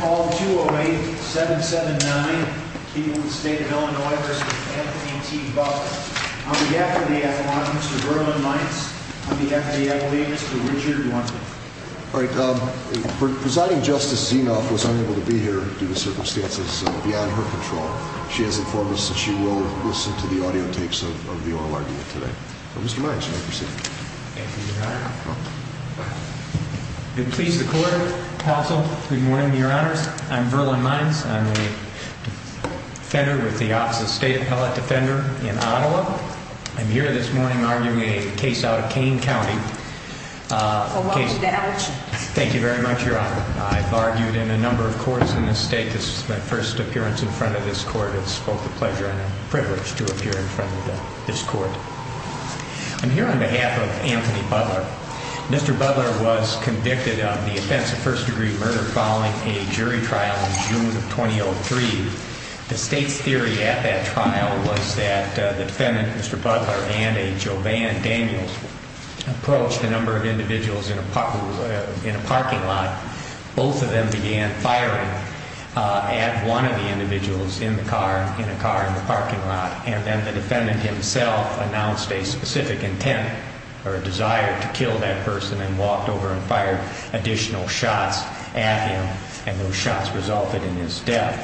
Call 208-779, Keeneland State of Illinois v. Anthony T. Butler On behalf of the Athlontics, Mr. Berman Mines On behalf of the Athletics, Mr. Richard Lundin Presiding Justice Zinoff was unable to be here due to circumstances beyond her control She has informed us that she will listen to the audio takes of the oral argument today Thank you, Your Honor Good morning, Your Honors. I'm Verlon Mines. I'm a defender with the Office of State Appellate Defender in Ottawa I'm here this morning arguing a case out of Kane County Thank you very much, Your Honor I've argued in a number of courts in this state. This is my first appearance in front of this court It's both a pleasure and a privilege to appear in front of this court I'm here on behalf of Anthony Butler Mr. Butler was convicted of the offense of first-degree murder following a jury trial in June of 2003 The state's theory at that trial was that the defendant, Mr. Butler, and a Jovan Daniels Approached a number of individuals in a parking lot Both of them began firing at one of the individuals in a car in the parking lot And then the defendant himself announced a specific intent or a desire to kill that person And walked over and fired additional shots at him And those shots resulted in his death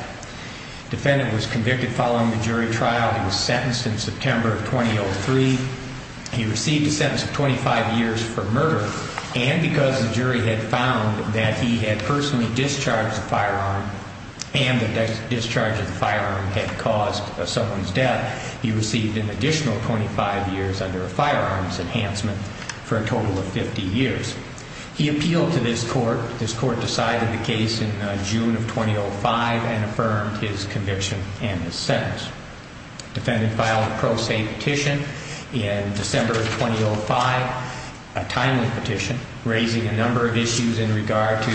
The defendant was convicted following the jury trial He was sentenced in September of 2003 He received a sentence of 25 years for murder And because the jury had found that he had personally discharged the firearm And the discharge of the firearm had caused someone's death He received an additional 25 years under a firearms enhancement for a total of 50 years He appealed to this court This court decided the case in June of 2005 And affirmed his conviction and his sentence The defendant filed a pro se petition in December of 2005 A timely petition raising a number of issues in regard to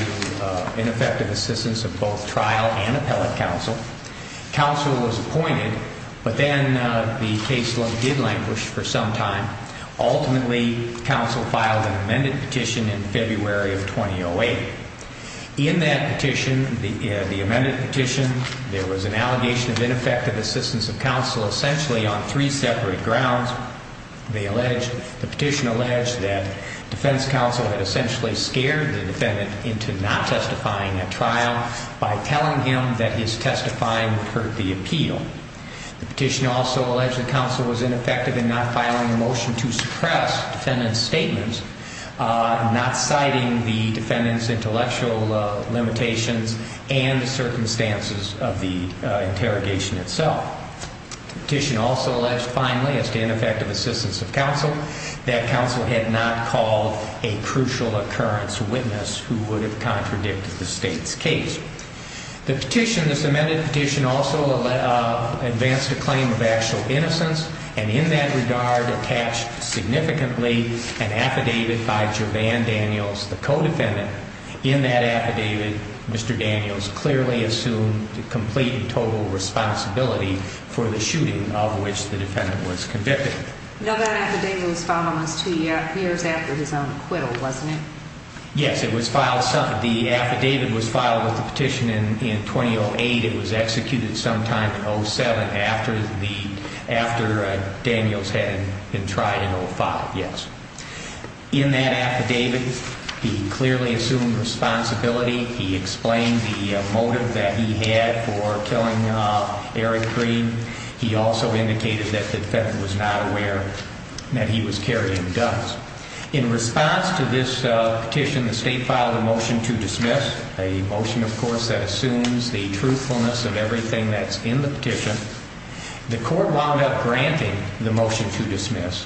ineffective assistance of both trial and appellate counsel Counsel was appointed, but then the case did languish for some time Ultimately, counsel filed an amended petition in February of 2008 In that petition, the amended petition, there was an allegation of ineffective assistance of counsel Essentially on three separate grounds The petition alleged that defense counsel had essentially scared the defendant into not testifying at trial By telling him that his testifying would hurt the appeal The petition also alleged that counsel was ineffective in not filing a motion to suppress defendant's statements Not citing the defendant's intellectual limitations and the circumstances of the interrogation itself The petition also alleged, finally, as to ineffective assistance of counsel That counsel had not called a crucial occurrence witness who would have contradicted the state's case The petition, this amended petition, also advanced a claim of actual innocence And in that regard attached significantly an affidavit by Jovan Daniels, the co-defendant In that affidavit, Mr. Daniels clearly assumed complete and total responsibility for the shooting of which the defendant was convicted Now that affidavit was filed almost two years after his own acquittal, wasn't it? Yes, it was filed, the affidavit was filed with the petition in 2008 It was executed sometime in 07 after Daniels had been tried in 05, yes In that affidavit, he clearly assumed responsibility He explained the motive that he had for killing Eric Green He also indicated that the defendant was not aware that he was carrying guns In response to this petition, the state filed a motion to dismiss A motion, of course, that assumes the truthfulness of everything that's in the petition The court wound up granting the motion to dismiss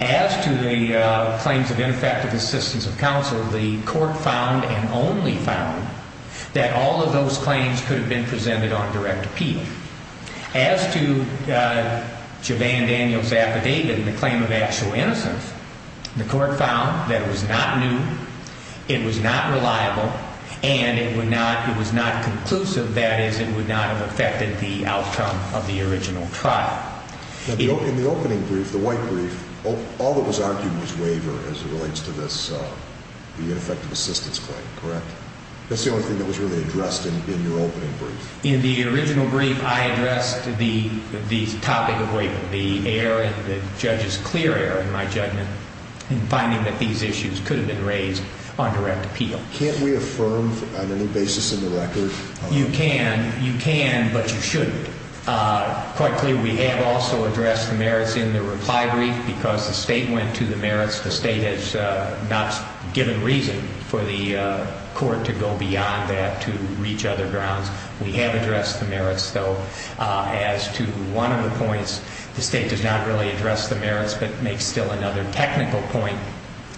As to the claims of ineffective assistance of counsel, the court found and only found That all of those claims could have been presented on direct appeal As to Jovan Daniels' affidavit and the claim of actual innocence The court found that it was not new, it was not reliable, and it was not conclusive That is, it would not have affected the outcome of the original trial In the opening brief, the white brief, all that was argued was waiver as it relates to this The ineffective assistance claim, correct? That's the only thing that was really addressed in your opening brief In the original brief, I addressed the topic of waiver The error, the judge's clear error in my judgment In finding that these issues could have been raised on direct appeal Can't we affirm on any basis in the record You can, you can, but you shouldn't Quite clear, we have also addressed the merits in the reply brief Because the state went to the merits, the state has not given reason For the court to go beyond that to reach other grounds We have addressed the merits, though As to one of the points, the state does not really address the merits But makes still another technical point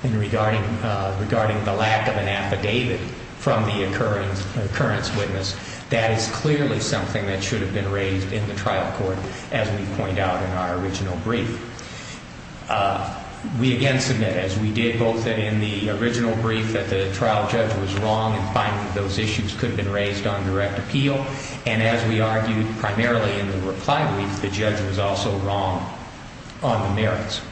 Regarding the lack of an affidavit from the occurrence witness That is clearly something that should have been raised in the trial court As we point out in our original brief We again submit, as we did both in the original brief That the trial judge was wrong in finding that those issues could have been raised on direct appeal And as we argued primarily in the reply brief The judge was also wrong on the merits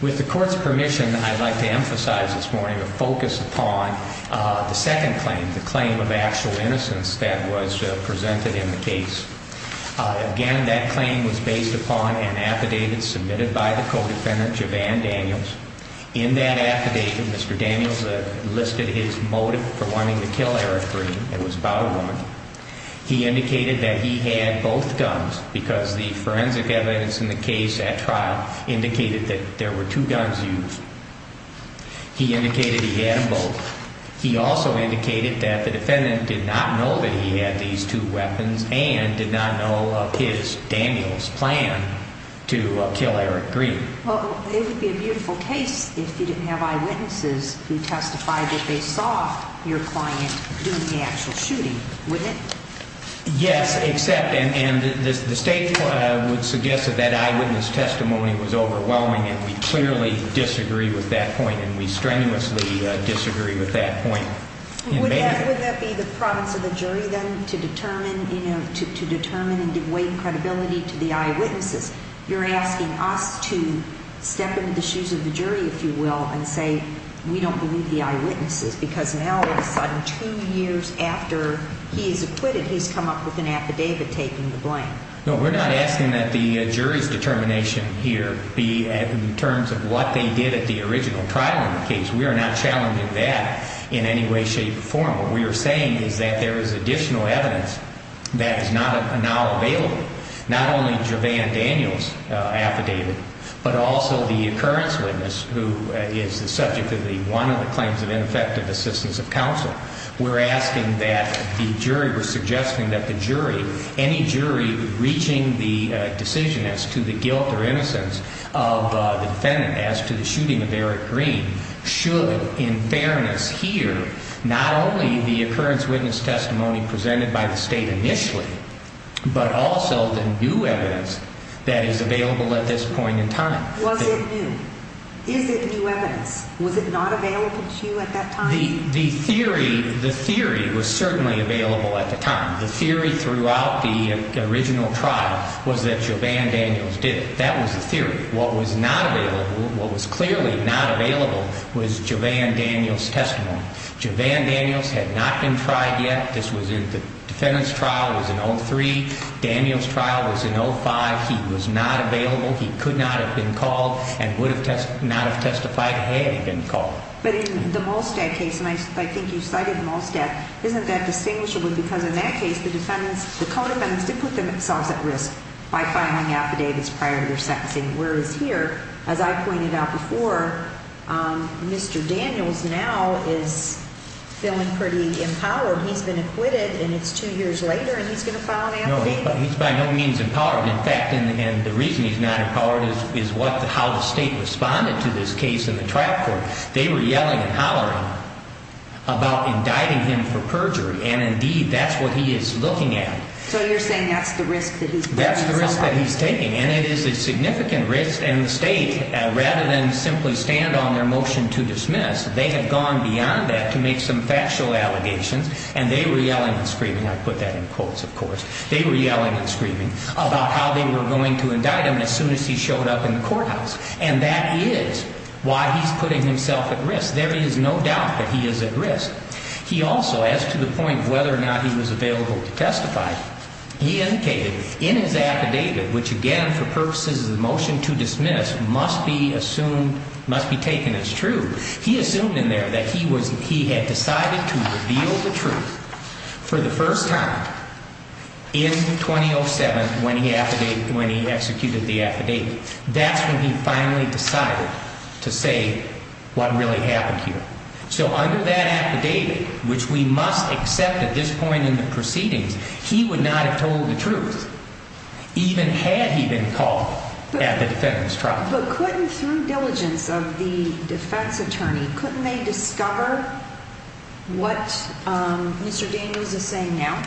With the court's permission, I'd like to emphasize this morning The second claim, the claim of actual innocence that was presented in the case Again, that claim was based upon an affidavit submitted by the co-defendant, Javann Daniels In that affidavit, Mr. Daniels listed his motive for wanting to kill Eric Green It was about a woman He indicated that he had both guns Because the forensic evidence in the case at trial Indicated that there were two guns used He indicated he had them both He also indicated that the defendant did not know that he had these two weapons And did not know of his, Daniels' plan to kill Eric Green Well, it would be a beautiful case if you didn't have eyewitnesses Who testified that they saw your client doing the actual shooting, wouldn't it? Yes, except, and the state would suggest that that eyewitness testimony was overwhelming And we clearly disagree with that point And we strenuously disagree with that point Would that be the province of the jury, then? To determine and give weight and credibility to the eyewitnesses You're asking us to step into the shoes of the jury, if you will And say, we don't believe the eyewitnesses Because now, all of a sudden, two years after he is acquitted He's come up with an affidavit taking the blame No, we're not asking that the jury's determination here Be in terms of what they did at the original trial in the case We are not challenging that in any way, shape, or form What we are saying is that there is additional evidence that is now available Not only Jovan Daniels' affidavit But also the occurrence witness Who is the subject of one of the claims of ineffective assistance of counsel We're asking that the jury, we're suggesting that the jury Any jury reaching the decision as to the guilt or innocence of the defendant As to the shooting of Eric Green Should, in fairness, hear not only the occurrence witness testimony Presented by the state initially But also the new evidence that is available at this point in time Was it new? Is it new evidence? Was it not available to you at that time? The theory was certainly available at the time The theory throughout the original trial was that Jovan Daniels did it That was the theory What was not available, what was clearly not available Was Jovan Daniels' testimony Jovan Daniels had not been tried yet The defendant's trial was in 03 Daniels' trial was in 05 He was not available He could not have been called And would not have testified had he been called But in the Molstad case, and I think you cited the Molstad Isn't that distinguishable? Because in that case, the defendants, the co-defendants Did put themselves at risk by filing affidavits prior to their sentencing Whereas here, as I pointed out before Mr. Daniels now is feeling pretty empowered He's been acquitted, and it's two years later And he's going to file an affidavit? No, he's by no means empowered In fact, and the reason he's not empowered Is how the state responded to this case in the trial court They were yelling and hollering About indicting him for perjury And indeed, that's what he is looking at So you're saying that's the risk that he's putting himself at? That's the risk that he's taking And it is a significant risk And the state, rather than simply stand on their motion to dismiss They had gone beyond that to make some factual allegations And they were yelling and screaming I put that in quotes, of course They were yelling and screaming About how they were going to indict him As soon as he showed up in the courthouse And that is why he's putting himself at risk Yes, there is no doubt that he is at risk He also, as to the point of whether or not he was available to testify He indicated in his affidavit Which again, for purposes of the motion to dismiss Must be assumed, must be taken as true He assumed in there that he had decided to reveal the truth For the first time In 2007 When he executed the affidavit That's when he finally decided To say what really happened here So under that affidavit Which we must accept at this point in the proceedings He would not have told the truth Even had he been called at the defendant's trial But couldn't, through diligence of the defense attorney Couldn't they discover what Mr. Daniels is saying now?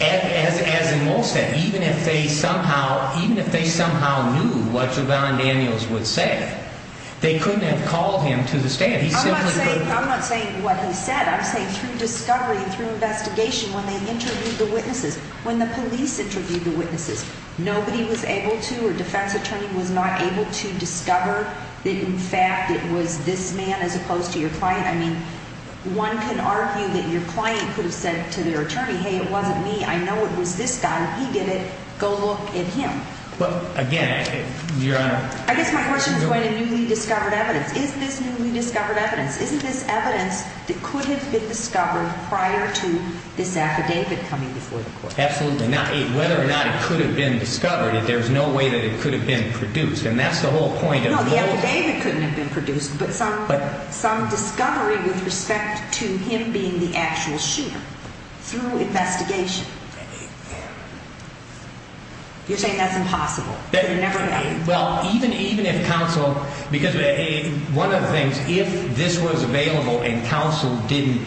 As in most things Even if they somehow knew What Javon Daniels would say They couldn't have called him to the stand I'm not saying what he said I'm saying through discovery, through investigation When they interviewed the witnesses When the police interviewed the witnesses Nobody was able to, or defense attorney Was not able to discover That in fact it was this man As opposed to your client I mean, one can argue that your client Could have said to their attorney Hey, it wasn't me, I know it was this guy He did it, go look at him But again, your honor I guess my question is going to newly discovered evidence Is this newly discovered evidence Isn't this evidence that could have been discovered Prior to this affidavit coming before the court? Absolutely not Whether or not it could have been discovered There's no way that it could have been produced And that's the whole point of the whole No, the affidavit couldn't have been produced But some discovery with respect to him being the actual shooter Through investigation You're saying that's impossible Well, even if counsel Because one of the things If this was available and counsel didn't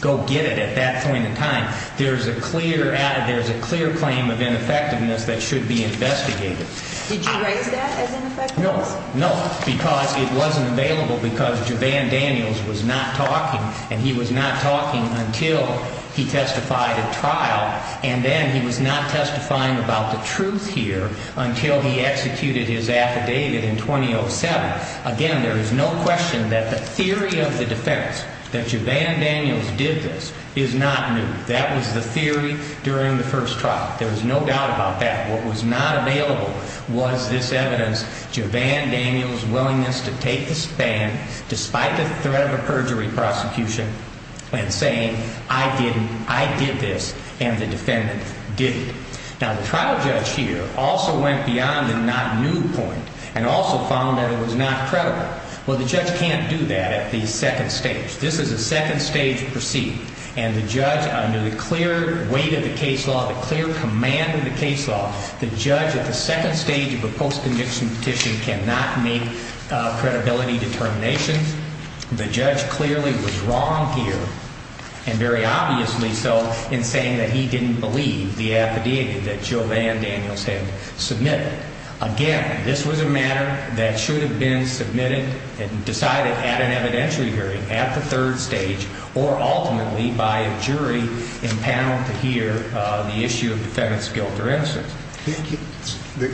Go get it at that point in time There's a clear claim of ineffectiveness That should be investigated Did you raise that as ineffectiveness? No, because it wasn't available Because Javan Daniels was not talking And he was not talking until He testified at trial And then he was not testifying about the truth here Until he executed his affidavit in 2007 Again, there is no question that the theory of the defense That Javan Daniels did this Is not new That was the theory during the first trial There was no doubt about that What was not available was this evidence Javan Daniels' willingness to take the stand Despite the threat of a perjury prosecution And saying, I didn't, I did this And the defendant didn't Now, the trial judge here also went beyond the not new point And also found that it was not credible Well, the judge can't do that at the second stage This is a second stage proceeding And the judge, under the clear weight of the case law The clear command of the case law The judge at the second stage of the post-conviction petition Cannot make a credibility determination The judge clearly was wrong here And very obviously so In saying that he didn't believe the affidavit That Javan Daniels had submitted Again, this was a matter that should have been submitted And decided at an evidentiary hearing At the third stage Or ultimately by a jury Impound to hear the issue of the defendant's guilt or innocence Thank you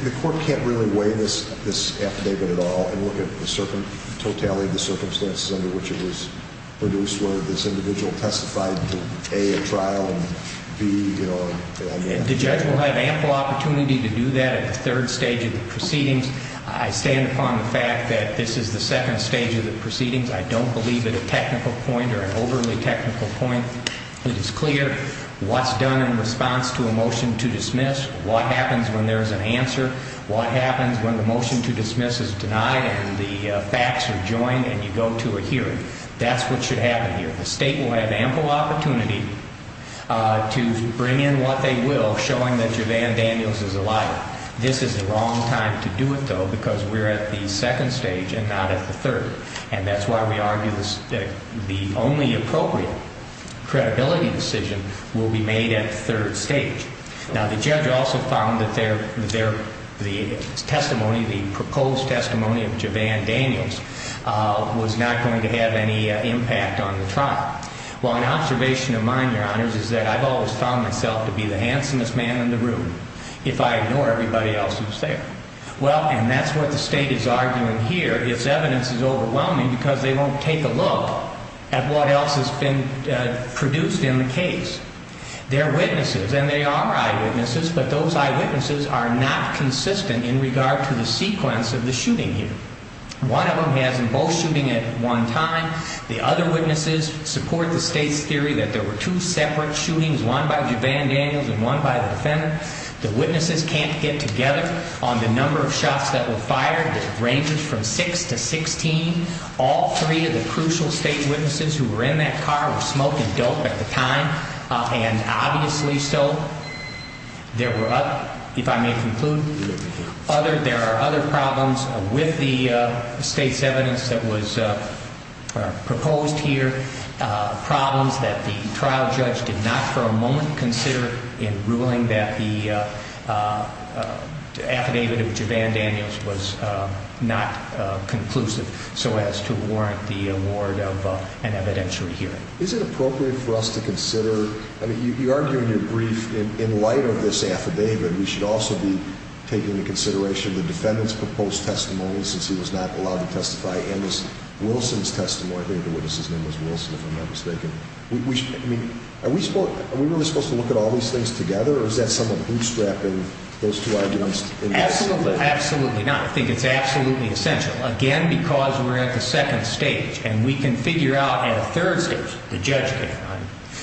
The court can't really weigh this affidavit at all And look at the circum, totality of the circumstances Under which it was produced Whether this individual testified to A, a trial And B, you know, I mean The judge will have ample opportunity to do that At the third stage of the proceedings I stand upon the fact that This is the second stage of the proceedings I don't believe at a technical point Or an overly technical point That it's clear What's done in response to a motion to dismiss What happens when there's an answer What happens when the motion to dismiss is denied And the facts are joined And you go to a hearing That's what should happen here The state will have ample opportunity To bring in what they will Showing that Javan Daniels is a liar This is the wrong time to do it though Because we're at the second stage And not at the third And that's why we argue That the only appropriate credibility decision Will be made at the third stage Now the judge also found That the testimony The proposed testimony of Javan Daniels Was not going to have any impact on the trial Well, an observation of mine, your honors Is that I've always found myself To be the handsomest man in the room If I ignore everybody else who's there Well, and that's what the state is arguing here Its evidence is overwhelming Because they won't take a look At what else has been produced in the case They're witnesses And they are eyewitnesses But those eyewitnesses are not consistent In regard to the sequence of the shooting here One of them has them both shooting at one time The other witnesses support the state's theory That there were two separate shootings One by Javan Daniels And one by the defendant The witnesses can't get together On the number of shots that were fired That ranges from six to sixteen All three of the crucial state witnesses Who were in that car Were smoking dope at the time And obviously still There were, if I may conclude There are other problems With the state's evidence That was proposed here Problems that the trial judge Did not for a moment consider In ruling that the affidavit of Javan Daniels Was not conclusive So as to warrant the award Of an evidentiary hearing Is it appropriate for us to consider I mean, you argue in your brief In light of this affidavit We should also be taking into consideration The defendant's proposed testimony Since he was not allowed to testify And Ms. Wilson's testimony I think the witness's name was Wilson If I'm not mistaken I mean, are we supposed Are we really supposed to look At all these things together Or is that someone bootstrapping Those two arguments Absolutely, absolutely not I think it's absolutely essential Again, because we're at the second stage And we can figure out At the third stage The judge can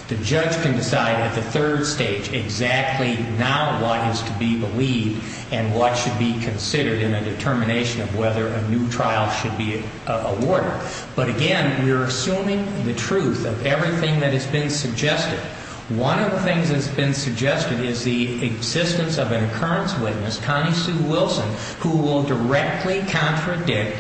The judge can decide At the third stage Exactly now what is to be believed And what should be considered In a determination of whether A new trial should be awarded But again, we're assuming the truth Of everything that has been suggested One of the things that's been suggested Is the existence of an occurrence witness Connie Sue Wilson Who will directly contradict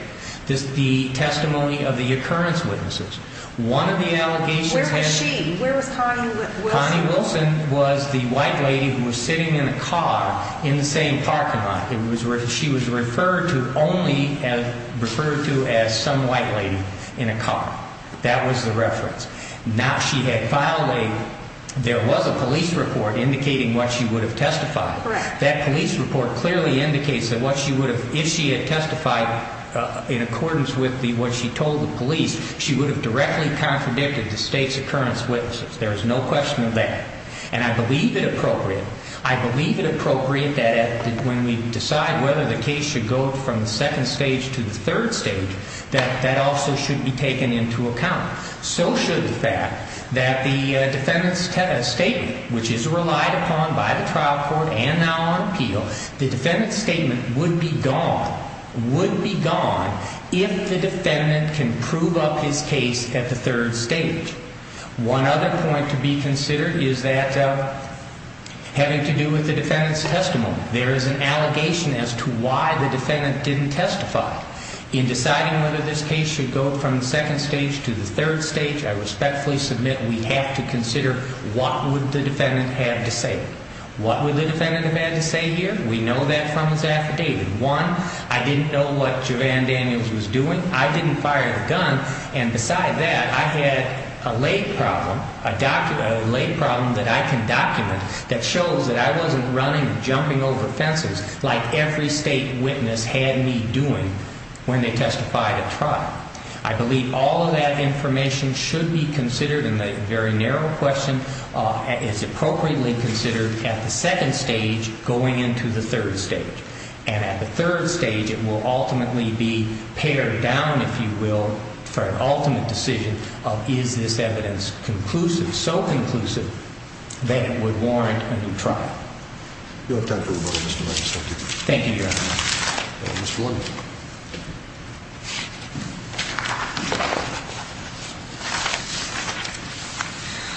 The testimony of the occurrence witnesses One of the allegations Where was she? Where was Connie Wilson? Connie Wilson was the white lady Who was sitting in a car In the same parking lot She was referred to only As referred to as some white lady In a car That was the reference Now she had violated There was a police report Indicating what she would have testified That police report clearly indicates That what she would have If she had testified In accordance with what she told the police She would have directly contradicted The state's occurrence witnesses There is no question of that And I believe it appropriate I believe it appropriate That when we decide Whether the case should go From the second stage To the third stage That that also should be taken into account That the defendant's statement Which is relied upon By the trial court And now on appeal The defendant's statement Would be gone Would be gone If the defendant can prove up his case At the third stage One other point to be considered Is that Having to do with the defendant's testimony There is an allegation As to why the defendant didn't testify In deciding whether this case Should go from the second stage To the third stage I respectfully submit We have to consider What would the defendant have to say What would the defendant have had to say here? We know that from his affidavit One, I didn't know what Jovan Daniels was doing I didn't fire the gun And beside that I had a lay problem A lay problem that I can document That shows that I wasn't running Jumping over fences Like every state witness had me doing When they testified at trial I believe all of that information Should be considered And the very narrow question Is appropriately considered At the second stage Going into the third stage And at the third stage It will ultimately be pared down If you will For an ultimate decision Of is this evidence conclusive So conclusive That it would warrant a new trial You have time for one more Mr. Williams Thank you Thank you, Your Honor Mr. Williams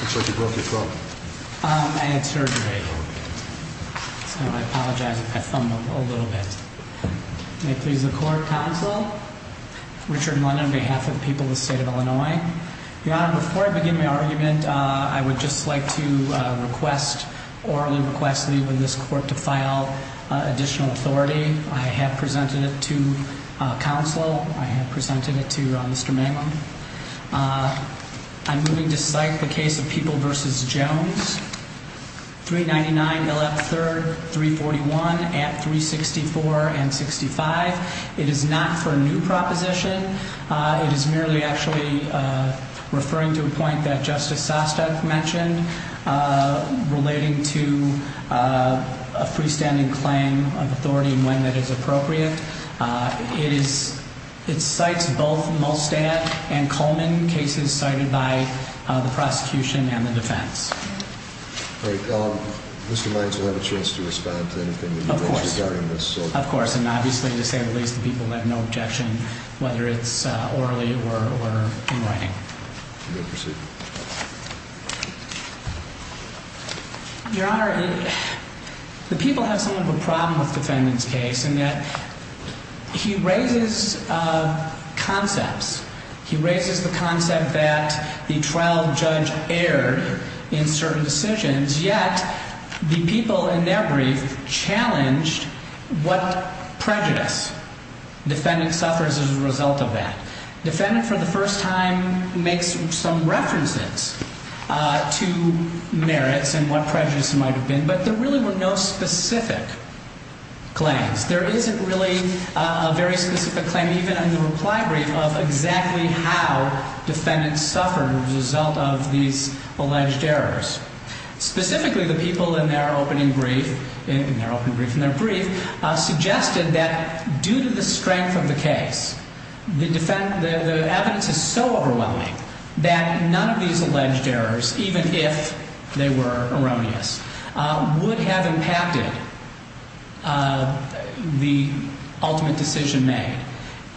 Looks like you broke your throat I had surgery So I apologize I fumbled a little bit May it please the court Counsel Richard Lund on behalf of The people of the state of Illinois Your Honor, before I begin my argument I would just like to request Orally request that even this court To file additional authority I have presented it to Counsel I have presented it to Mr. Mangum I'm moving to cite the case Of People v. Jones 399 L.F. 3rd 341 At 364 and 65 It is not for a new proposition It is merely actually Referring to a point That Justice Sostek mentioned Relating to A freestanding claim Of authority when that is appropriate It is It cites both Molstad and Coleman Cases cited by the prosecution And the defense Mr. Mangum will have a chance To respond to anything Of course, and obviously To say the least, the people have no objection Whether it's orally or In writing You may proceed Your Honor The people have some of a problem With the defendant's case In that he raises Concepts He raises the concept that The trial judge erred In certain decisions Yet the people in their brief Challenged What prejudice Defendant suffers as a result of that Defendant for the first time Makes some references To merits And what prejudice might have been But there really were no specific Claims There isn't really a very specific claim And even in the reply brief Of exactly how defendants suffered As a result of these Alleged errors Specifically the people in their opening brief In their brief Suggested that Due to the strength of the case The evidence is so overwhelming That none of these Alleged errors, even if They were erroneous Would have impacted The ultimate decision made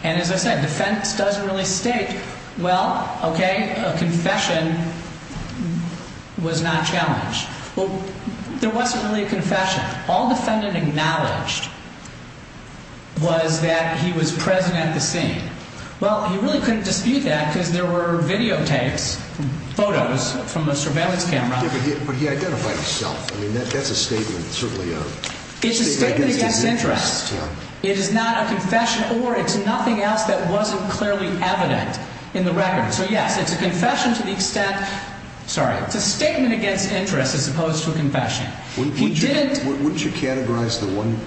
And as I said Defense doesn't really state Well, okay A confession Was not challenged There wasn't really a confession All defendant acknowledged Was that He was present at the scene Well, he really couldn't dispute that Because there were videotapes Photos from a surveillance camera But he identified himself I mean, that's a statement It's a statement against interest It is not a confession Or it's nothing else that wasn't clearly evident In the record So yes, it's a confession to the extent Sorry, it's a statement against interest As opposed to a confession Wouldn't you categorize the one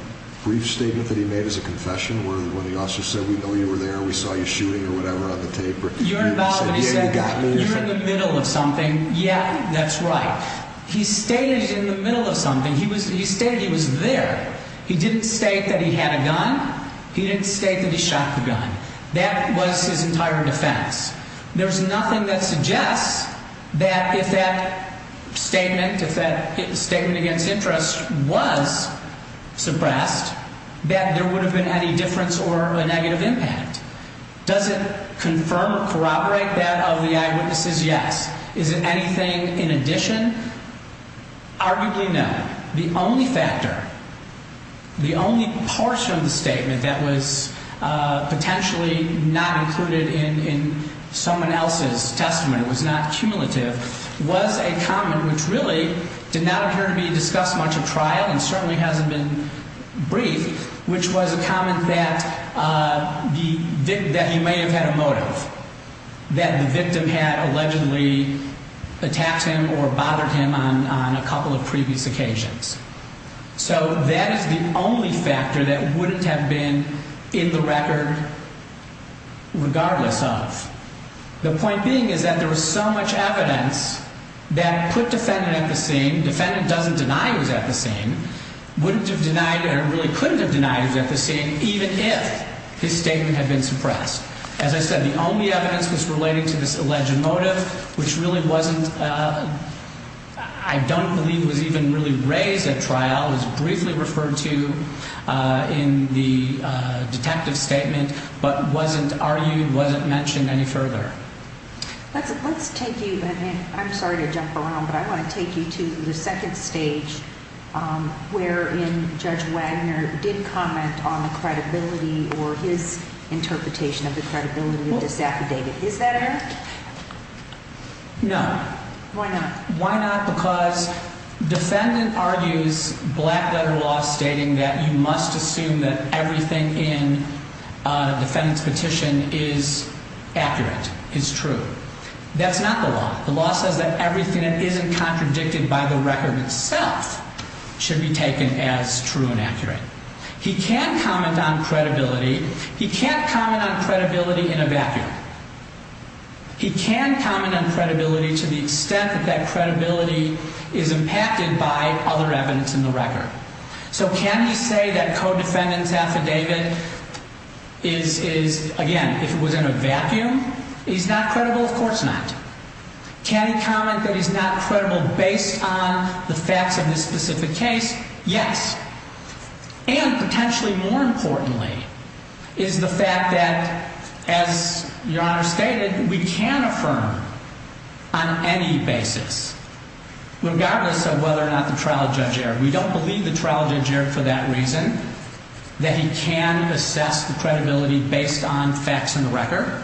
Brief statement that he made as a confession Where the officer said We know you were there, we saw you shooting or whatever On the tape You're in the middle of something And yeah, that's right He stated in the middle of something He stated he was there He didn't state that he had a gun He didn't state that he shot the gun That was his entire defense There's nothing that suggests That if that Statement If that statement against interest was Suppressed That there would have been any difference Or a negative impact Does it confirm, corroborate that Of the eyewitnesses? Yes Is it anything in addition? Arguably no The only factor The only portion of the statement That was Potentially not included in Someone else's testimony Was not cumulative Was a comment which really Did not appear to be discussed much at trial And certainly hasn't been briefed Which was a comment that That he may have had a motive That the victim had Allegedly attacked him Or bothered him on a couple Of previous occasions So that is the only factor That wouldn't have been In the record Regardless of The point being is that there was so much evidence That put defendant At the scene, defendant doesn't deny He was at the scene, wouldn't have denied Or really couldn't have denied he was at the scene Even if his statement had been Suppressed. As I said the only evidence Was relating to this alleged motive Which really wasn't I don't believe was even Really raised at trial It was briefly referred to In the detective statement But wasn't argued Wasn't mentioned any further Let's take you I'm sorry to jump around but I want to take you To the second stage Where in Judge Wagner Did comment on the credibility Or his interpretation Of the credibility of this affidavit Is that correct? No. Why not? Because defendant Argues black letter law Stating that you must assume that Everything in Defendant's petition is Accurate, is true That's not the law. The law says that Everything that isn't contradicted by the record Itself should be Taken as true and accurate He can comment on credibility He can't comment on credibility In a vacuum He can comment on credibility To the extent that that credibility Is impacted by Other evidence in the record So can he say that codefendant's affidavit Is Again, if it was in a vacuum He's not credible? Of course not Can he comment that He's not credible based on The facts of this specific case? Yes. And Potentially more importantly Is the fact that As your honor stated We can affirm On any basis Regardless of whether or not the trial Judge erred. We don't believe the trial judge Erred for that reason That he can assess the credibility Based on facts in the record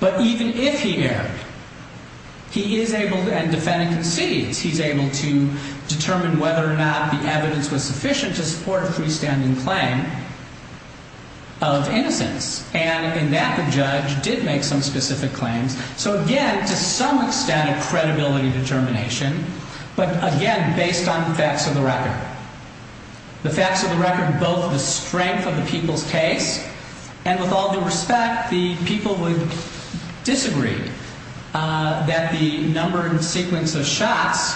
But even if he erred He is able to And defendant concedes he's able to That the evidence was sufficient to support A freestanding claim Of innocence And in that the judge did make some specific claims So again, to some extent A credibility determination But again, based on The facts of the record The facts of the record Both the strength of the people's case And with all due respect The people would disagree That the number And sequence of shots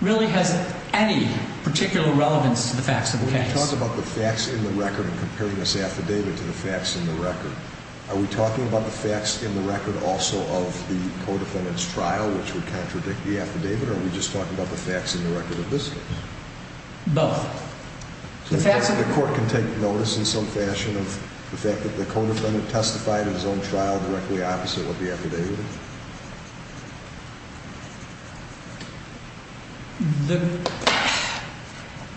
Really has any Particular relevance to the facts of the case When you talk about the facts in the record And comparing this affidavit to the facts in the record Are we talking about the facts In the record also of the Codefendant's trial which would contradict The affidavit or are we just talking about the facts In the record of this case? Both. The facts of the record The court can take notice in some fashion Of the fact that the codefendant testified In his own trial directly opposite what the affidavit is? The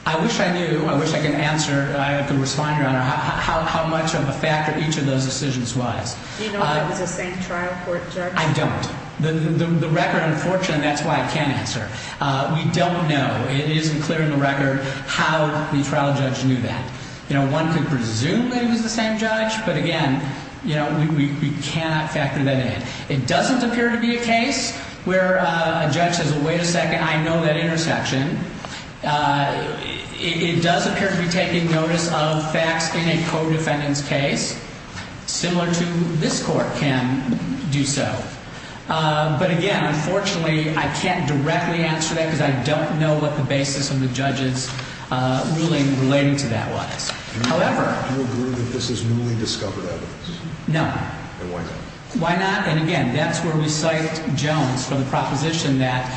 I wish I knew I wish I could answer How much of a factor Each of those decisions was Do you know if it was the same trial court judge? I don't. The record, unfortunately That's why I can't answer We don't know. It isn't clear in the record How the trial judge knew that You know, one could presume It was the same judge, but again You know, we cannot factor that in It doesn't appear to be a case Where a judge says, wait a second I know that intersection It does appear to be Taking notice of facts In a codefendant's case Similar to this court Can do so But again, unfortunately I can't directly answer that because I don't Know what the basis of the judge's Ruling relating to that was However Do you agree that this is newly discovered evidence? No. Then why not? And again, that's where we cite Jones For the proposition that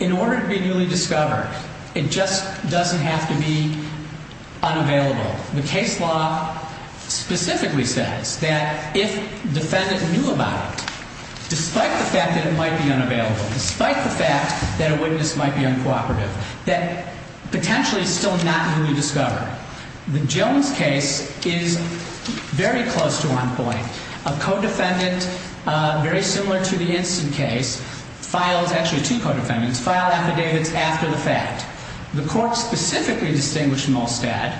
In order to be newly discovered It just doesn't have to be Unavailable The case law Specifically says that If defendant knew about it Despite the fact that it might be unavailable Despite the fact that a witness Might be uncooperative That potentially is still not newly discovered The Jones case Is very close to on point A codefendant Very similar to the instant case Files, actually two codefendants File affidavits after the fact The court specifically distinguished Molstad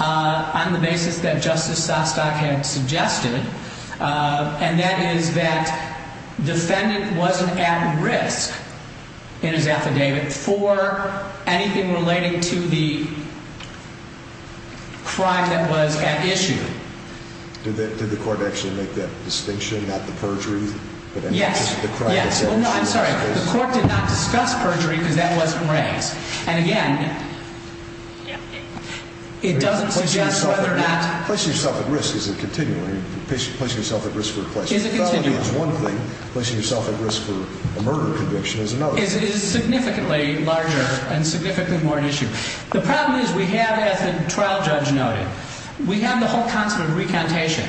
On the basis that Justice Sostack Had suggested And that is that Defendant wasn't at risk In his affidavit For anything relating to The Crime that was at issue Did the court actually make that Distinction, not the perjury? Yes, yes I'm sorry, the court did not discuss perjury Because that wasn't raised And again It doesn't suggest whether or not Placing yourself at risk isn't continual Placing yourself at risk for a Placing yourself at risk for a murder Conviction is another It is significantly larger And significantly more an issue The problem is we have, as the trial judge noted We have the whole concept of recantation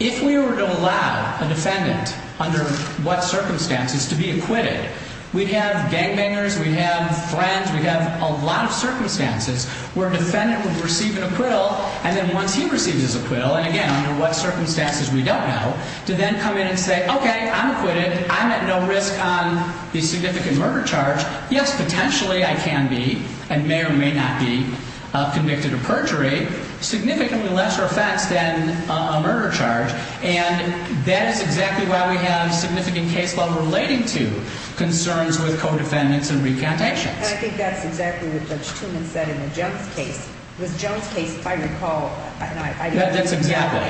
If we were to allow A defendant, under what Circumstances, to be acquitted We'd have gangbangers, we'd have Friends, we'd have a lot of circumstances Where a defendant would receive An acquittal, and then once he receives His acquittal, and again, under what circumstances We don't know, to then come in and say Okay, I'm acquitted, I'm at no risk On the significant murder charge Yes, potentially I can be And may or may not be Convicted of perjury Significantly lesser offense than A murder charge, and That is exactly why we have Significant case law relating to Concerns with co-defendants and recantations And I think that's exactly what Judge Toomans Said in the Jones case The Jones case, if I recall That's exactly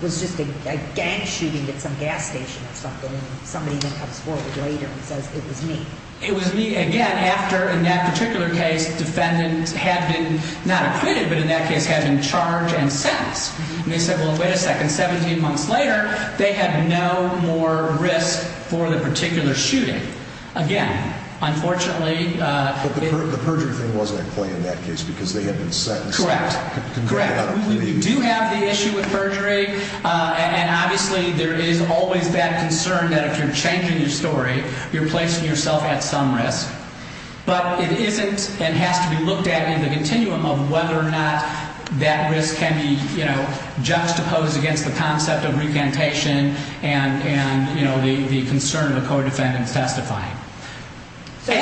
Was just a gang shooting At some gas station or something And somebody then comes forward later and says It was me It was me, again, after In that particular case, defendants had been Not acquitted, but in that case had been Charged and sentenced And they said, well, wait a second, 17 months later They had no more risk For the particular shooting Again, unfortunately But the perjury thing wasn't At play in that case, because they had been sentenced Correct, correct We do have the issue with perjury And obviously there is always That concern that if you're changing your story You're placing yourself at some risk But it isn't And has to be looked at in the continuum of Whether or not that risk Can be, you know, juxtaposed Against the concept of recantation And, you know, the Concern of the co-defendant testifying So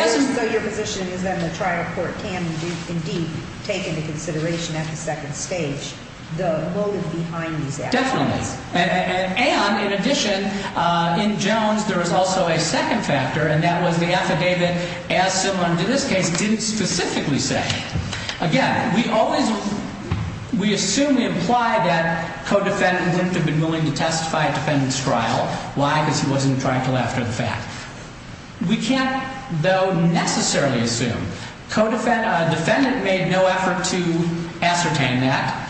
your position Is that the trial court can Indeed take into consideration At the second stage the motive Behind these actions And in addition In Jones there is also A second factor, and that was the affidavit As similar to this case Didn't specifically say Again, we always We assume, we imply that Co-defendant didn't have been willing to testify At defendant's trial. Why? Because he wasn't trying to laughter at the fact We can't, though, necessarily Assume. Co-defendant Defendant made no effort to Ascertain that